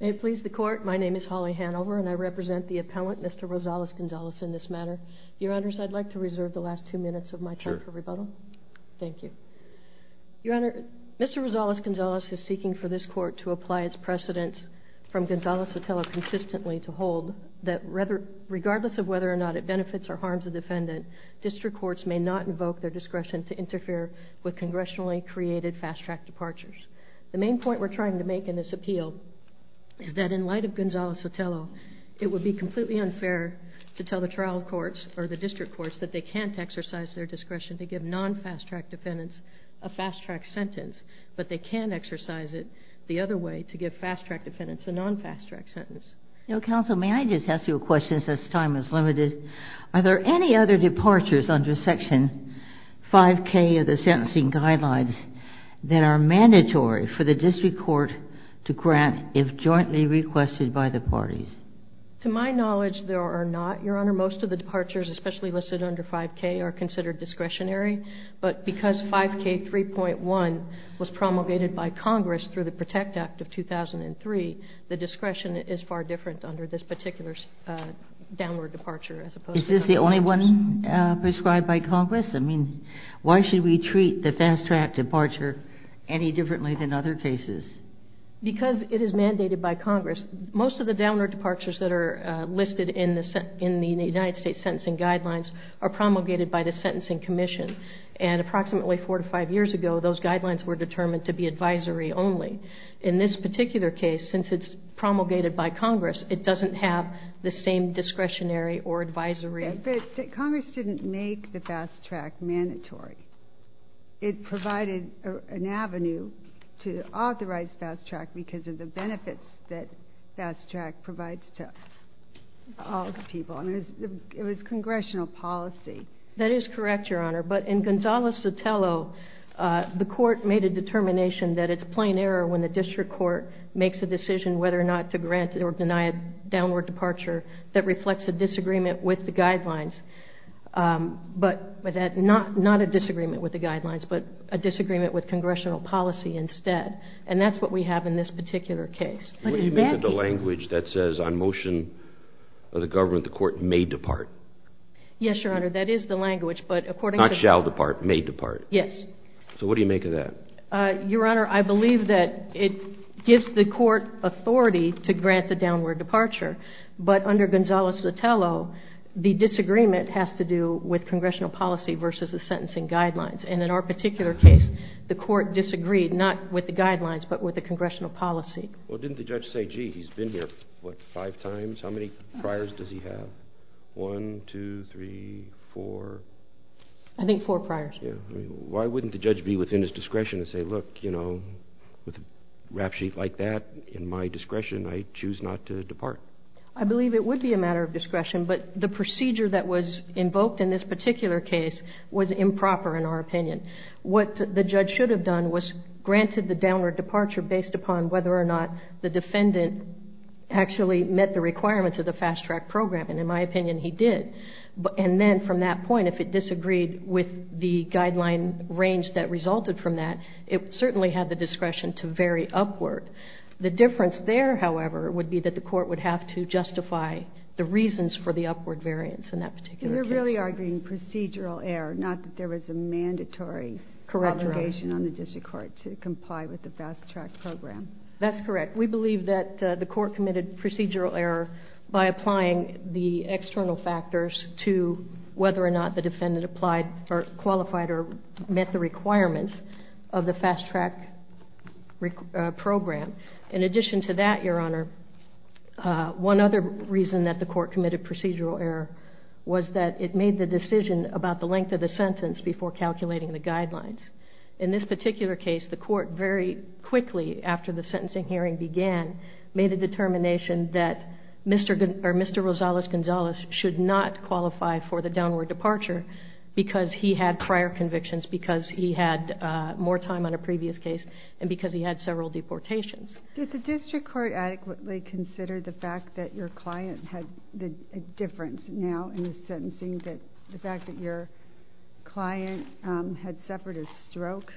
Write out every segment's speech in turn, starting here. May it please the Court, my name is Holly Hanover, and I represent the appellant, Mr. Rosales-Gonzales, in this matter. Your Honors, I'd like to reserve the last two minutes of my time for rebuttal. Thank you. Your Honor, Mr. Rosales-Gonzales is seeking for this Court to apply its precedence from Gonzales-Sotelo consistently to hold that regardless of whether or not it benefits or harms a defendant, district courts may not invoke their discretion to The main point we're trying to make in this appeal is that in light of Gonzales-Sotelo, it would be completely unfair to tell the trial courts or the district courts that they can't exercise their discretion to give non-fast-track defendants a fast-track sentence, but they can exercise it the other way, to give fast-track defendants a non-fast-track sentence. Now, Counsel, may I just ask you a question since this time is limited? Are there any other departures under Section 5K of the Sentencing Guidelines that are mandatory for the district court to grant if jointly requested by the parties? To my knowledge, there are not, Your Honor. Most of the departures, especially listed under 5K, are considered discretionary, but because 5K 3.1 was promulgated by Congress through the PROTECT Act of 2003, the discretion is far different under this particular downward departure as opposed to other cases. Is this the only one prescribed by Congress? I mean, why should we treat the fast-track departure any differently than other cases? Because it is mandated by Congress. Most of the downward departures that are listed in the United States Sentencing Guidelines are promulgated by the Sentencing Commission. And approximately four to five years ago, those guidelines were determined to be advisory only. In this particular case, since it's promulgated by Congress, it doesn't have the same discretionary or advisory... But Congress didn't make the fast-track mandatory. It provided an avenue to authorize fast-track because of the benefits that fast-track provides to all the people. I mean, it was congressional policy. That is correct, Your Honor. But in Gonzales-Sotelo, the court made a determination that it's a plain error when the district court makes a decision whether or not to grant or deny a downward departure that reflects a disagreement with the guidelines. But not a disagreement with the guidelines, but a disagreement with congressional policy instead. And that's what we have in this particular case. What do you make of the language that says, on motion of the government, the court may depart? Yes, Your Honor, that is the language, but according to... Not shall depart, may depart. Yes. So what do you make of that? Your Honor, I believe that it gives the court authority to grant the downward departure, but under Gonzales-Sotelo, the disagreement has to do with congressional policy versus the sentencing guidelines. And in our particular case, the court disagreed not with the guidelines, but with the congressional policy. Well, didn't the judge say, gee, he's been here, what, five times? How many priors does he have? One, two, three, four? I think four priors. Yeah. I mean, why wouldn't the judge be within his discretion to say, look, you know, with a rap sheet like that, in my discretion, I choose not to depart? I believe it would be a matter of discretion, but the procedure that was invoked in this particular case was improper, in our opinion. What the judge should have done was granted the downward departure based upon whether or not the defendant actually met the requirements of the fast track program. And in my opinion, he did. And then from that point, if it disagreed with the guideline range that resulted from that, it certainly had the discretion to vary upward. The difference there, however, would be that the court would have to justify the reasons for the upward variance in that particular case. So you're really arguing procedural error, not that there was a mandatory obligation on the district court to comply with the fast track program. That's correct. We believe that the court committed procedural error by applying the external factors to whether or not the defendant applied or qualified or met the requirements of the fast track program. In addition to that, Your Honor, one other reason that the court committed procedural error was that it made the decision about the length of the sentence before calculating the guidelines. In this particular case, the court very quickly after the sentencing hearing began, made a determination that Mr. Gonzalez should not qualify for the downward departure because he had prior convictions, because he had more time on a previous case, and because he had several deportations. Did the district court adequately consider the fact that your client had a difference now in the sentencing, the fact that your client had suffered a stroke?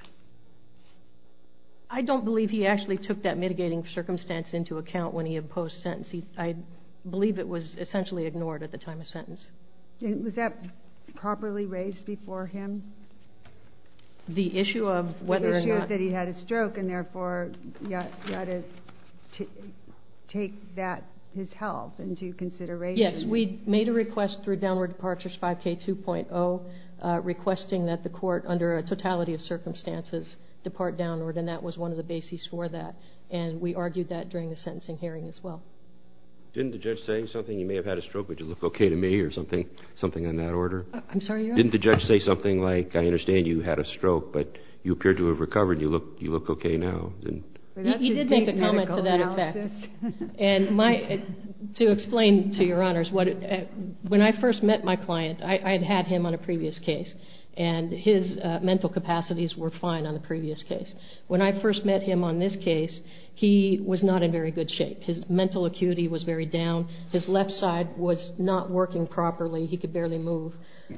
I don't believe he actually took that mitigating circumstance into account when he imposed sentencing. I believe it was essentially ignored at the time of sentence. Was that properly raised before him? The issue of whether or not... The issue is that he had a stroke, and therefore you ought to take that, his health, into consideration. Yes, we made a request through downward departures 5K2.0 requesting that the court, under a totality of circumstances, depart downward, and that was one of the bases for that, and we argued that during the sentencing hearing as well. Didn't the judge say something, you may have had a stroke, but you look okay to me, or something in that order? I'm sorry, Your Honor? Didn't the judge say something like, I understand you had a stroke, but you appear to have recovered, you look okay now? He did make a comment to that effect. To explain to Your Honors, when I first met my client, I had had him on a previous case, and his mental capacities were fine on the previous case. When I first met him on this case, he was not in very good shape. His mental acuity was very down. His left side was not working properly. He could barely move.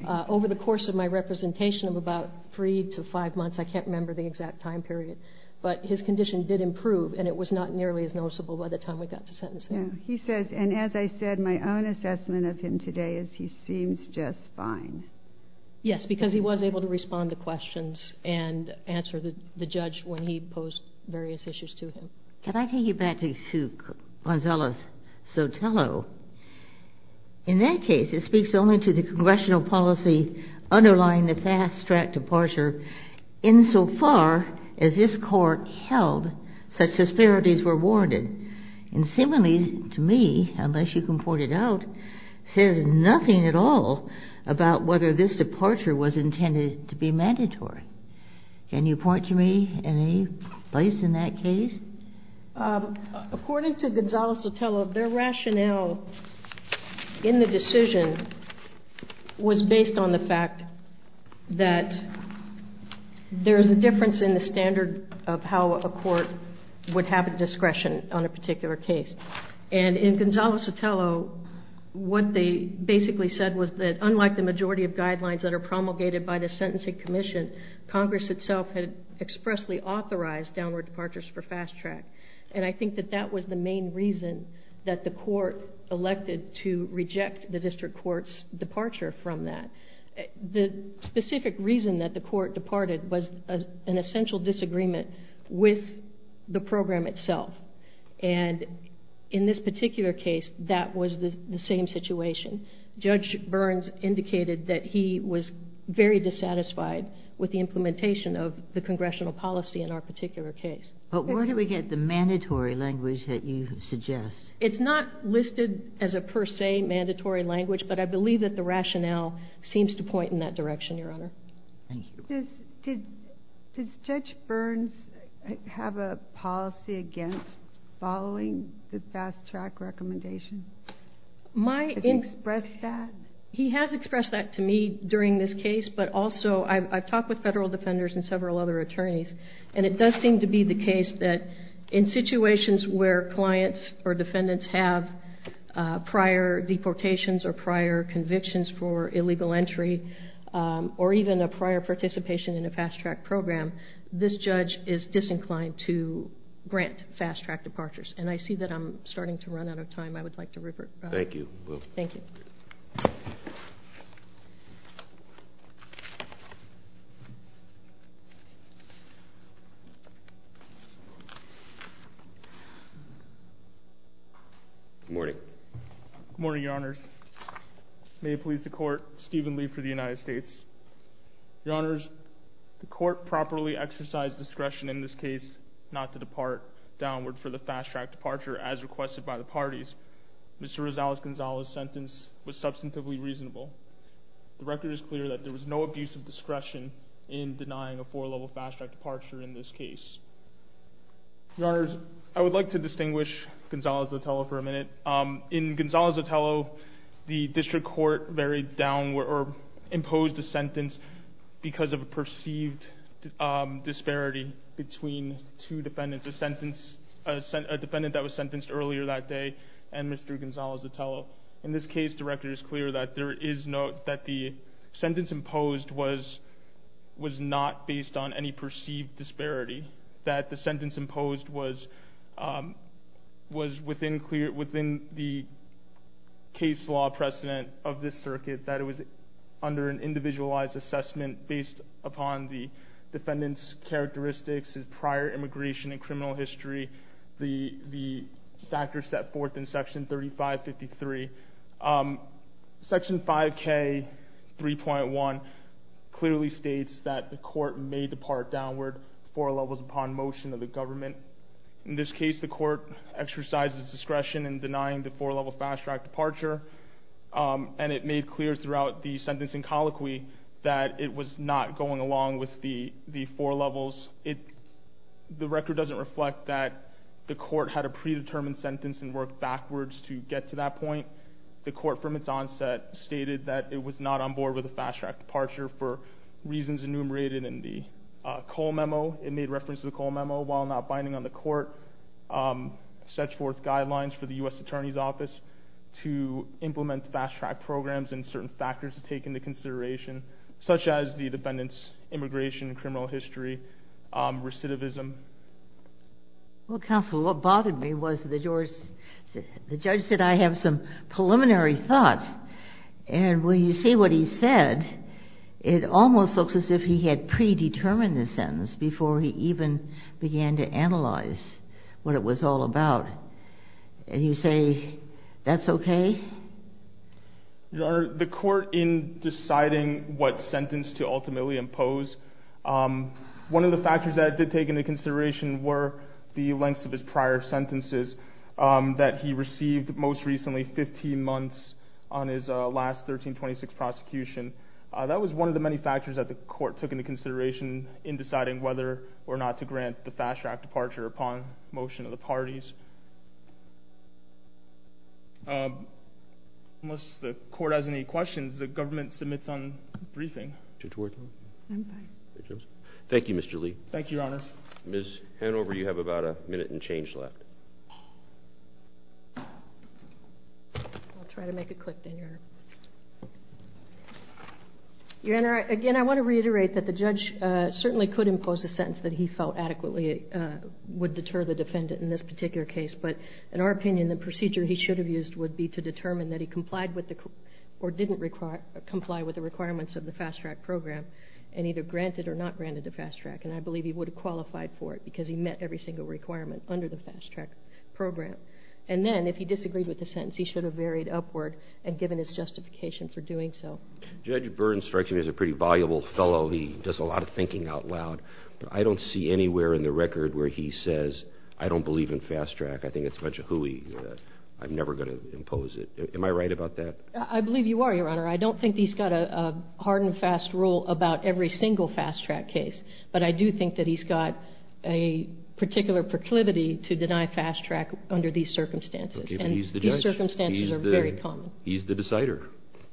Over the course of my representation of about three to five months, I can't remember the exact time period, but his condition did improve, and it was not nearly as noticeable by the time we got to sentencing. He says, and as I said, my own assessment of him today is he seems just fine. Yes, because he was able to respond to questions and answer the judge when he posed various issues to him. Can I take you back to Gonzalez-Sotelo? In that case, it speaks only to the congressional policy underlying the fast-track departure, insofar as this court held such disparities were warranted. And similarly to me, unless you can point it out, says nothing at all about whether this departure was intended to be mandatory. Can you point to me in any place in that case? According to Gonzalez-Sotelo, their rationale in the decision was based on the fact that there is a difference in the standard of how a court would have a discretion on a particular case. And in Gonzalez-Sotelo, what they basically said was that unlike the majority of guidelines that are promulgated by the Sentencing Commission, Congress itself had expressly authorized downward departures for fast-track. And I think that that was the main reason that the court elected to reject the district court's departure from that. The specific reason that the court departed was an essential disagreement with the program itself. And in this particular case, that was the same situation. Judge Burns indicated that he was very dissatisfied with the implementation of the congressional policy in our particular case. But where do we get the mandatory language that you suggest? It's not listed as a per se mandatory language, but I believe that the rationale seems to point in that direction, Your Honor. Thank you. Does Judge Burns have a policy against following the fast-track recommendation? Has he expressed that? He has expressed that to me during this case, but also I've talked with federal defenders and several other attorneys, and it does seem to be the case that in situations where clients or defendants have prior deportations or prior convictions for illegal entry or even a prior participation in a fast-track program, this judge is disinclined to grant fast-track departures. And I see that I'm starting to run out of time. I would like to revert back. Thank you. Thank you. Good morning. Good morning, Your Honors. May it please the Court, Stephen Lee for the United States. Your Honors, the Court properly exercised discretion in this case not to depart downward for the fast-track departure as requested by the parties. Mr. Rosales-Gonzalez's sentence was substantively reasonable. The record is clear that there was no abuse of discretion in denying a four-level fast-track departure in this case. Your Honors, I would like to distinguish Gonzales-Otello for a minute. In Gonzales-Otello, the district court buried down or imposed a sentence because of a perceived disparity between two defendants. A defendant that was sentenced earlier that day and Mr. Gonzales-Otello. In this case, the record is clear that the sentence imposed was not based on any perceived disparity, that the sentence imposed was within the case law precedent of this circuit, that it was under an individualized assessment based upon the defendant's characteristics, his prior immigration and criminal history, the factors set forth in Section 3553. Section 5K3.1 clearly states that the court may depart downward four levels upon motion of the government. In this case, the court exercised discretion in denying the four-level fast-track departure, and it made clear throughout the sentencing colloquy that it was not going along with the four levels. The record doesn't reflect that the court had a predetermined sentence and worked backwards to get to that point. The court from its onset stated that it was not on board with a fast-track departure for reasons enumerated in the Cole Memo. It made reference to the Cole Memo, while not binding on the court, sets forth guidelines for the U.S. Attorney's Office to implement fast-track programs and certain factors to take into consideration, such as the defendant's immigration and criminal history, recidivism. Well, counsel, what bothered me was the judge said, I have some preliminary thoughts, and when you see what he said, it almost looks as if he had predetermined the sentence before he even began to analyze what it was all about. And you say, that's okay? Your Honor, the court, in deciding what sentence to ultimately impose, one of the factors that it did take into consideration were the lengths of his prior sentences that he received most recently, 15 months on his last 1326 prosecution. That was one of the many factors that the court took into consideration in deciding whether or not to grant the fast-track departure upon motion of the parties. Unless the court has any questions, the government submits on briefing. Thank you, Mr. Lee. Thank you, Your Honor. Ms. Hanover, you have about a minute and change left. I'll try to make it quick, then, Your Honor. Your Honor, again, I want to reiterate that the judge certainly could impose a sentence that he felt adequately would deter the defendant in this particular case. But in our opinion, the procedure he should have used would be to determine that he complied with or didn't comply with the requirements of the fast-track program and either grant it or not grant it to fast-track. And I believe he would have qualified for it because he met every single requirement under the fast-track program. And then, if he disagreed with the sentence, he should have varied upward and given his justification for doing so. Judge Burns strikes me as a pretty voluble fellow. He does a lot of thinking out loud. But I don't see anywhere in the record where he says, I don't believe in fast-track. I think it's a bunch of hooey. I'm never going to impose it. Am I right about that? I believe you are, Your Honor. I don't think he's got a hard-and-fast rule about every single fast-track case. But I do think that he's got a particular proclivity to deny fast-track under these circumstances. Okay. But he's the judge. And these circumstances are very common. He's the decider.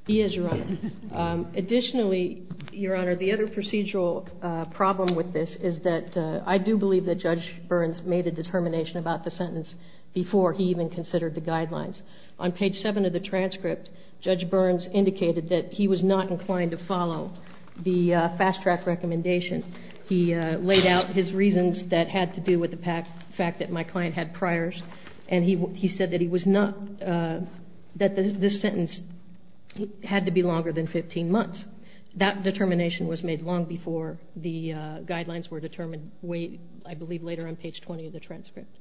He is, Your Honor. Additionally, Your Honor, the other procedural problem with this is that I do believe that Judge Burns made a determination about the sentence before he even considered the guidelines. On page 7 of the transcript, Judge Burns indicated that he was not inclined to follow the fast-track recommendation. He laid out his reasons that had to do with the fact that my client had priors. And he said that this sentence had to be longer than 15 months. That determination was made long before the guidelines were determined, I believe, later on page 20 of the transcript.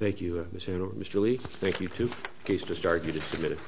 Thank you, Ms. Hanover. Mr. Lee, thank you, too. The case just argued and submitted.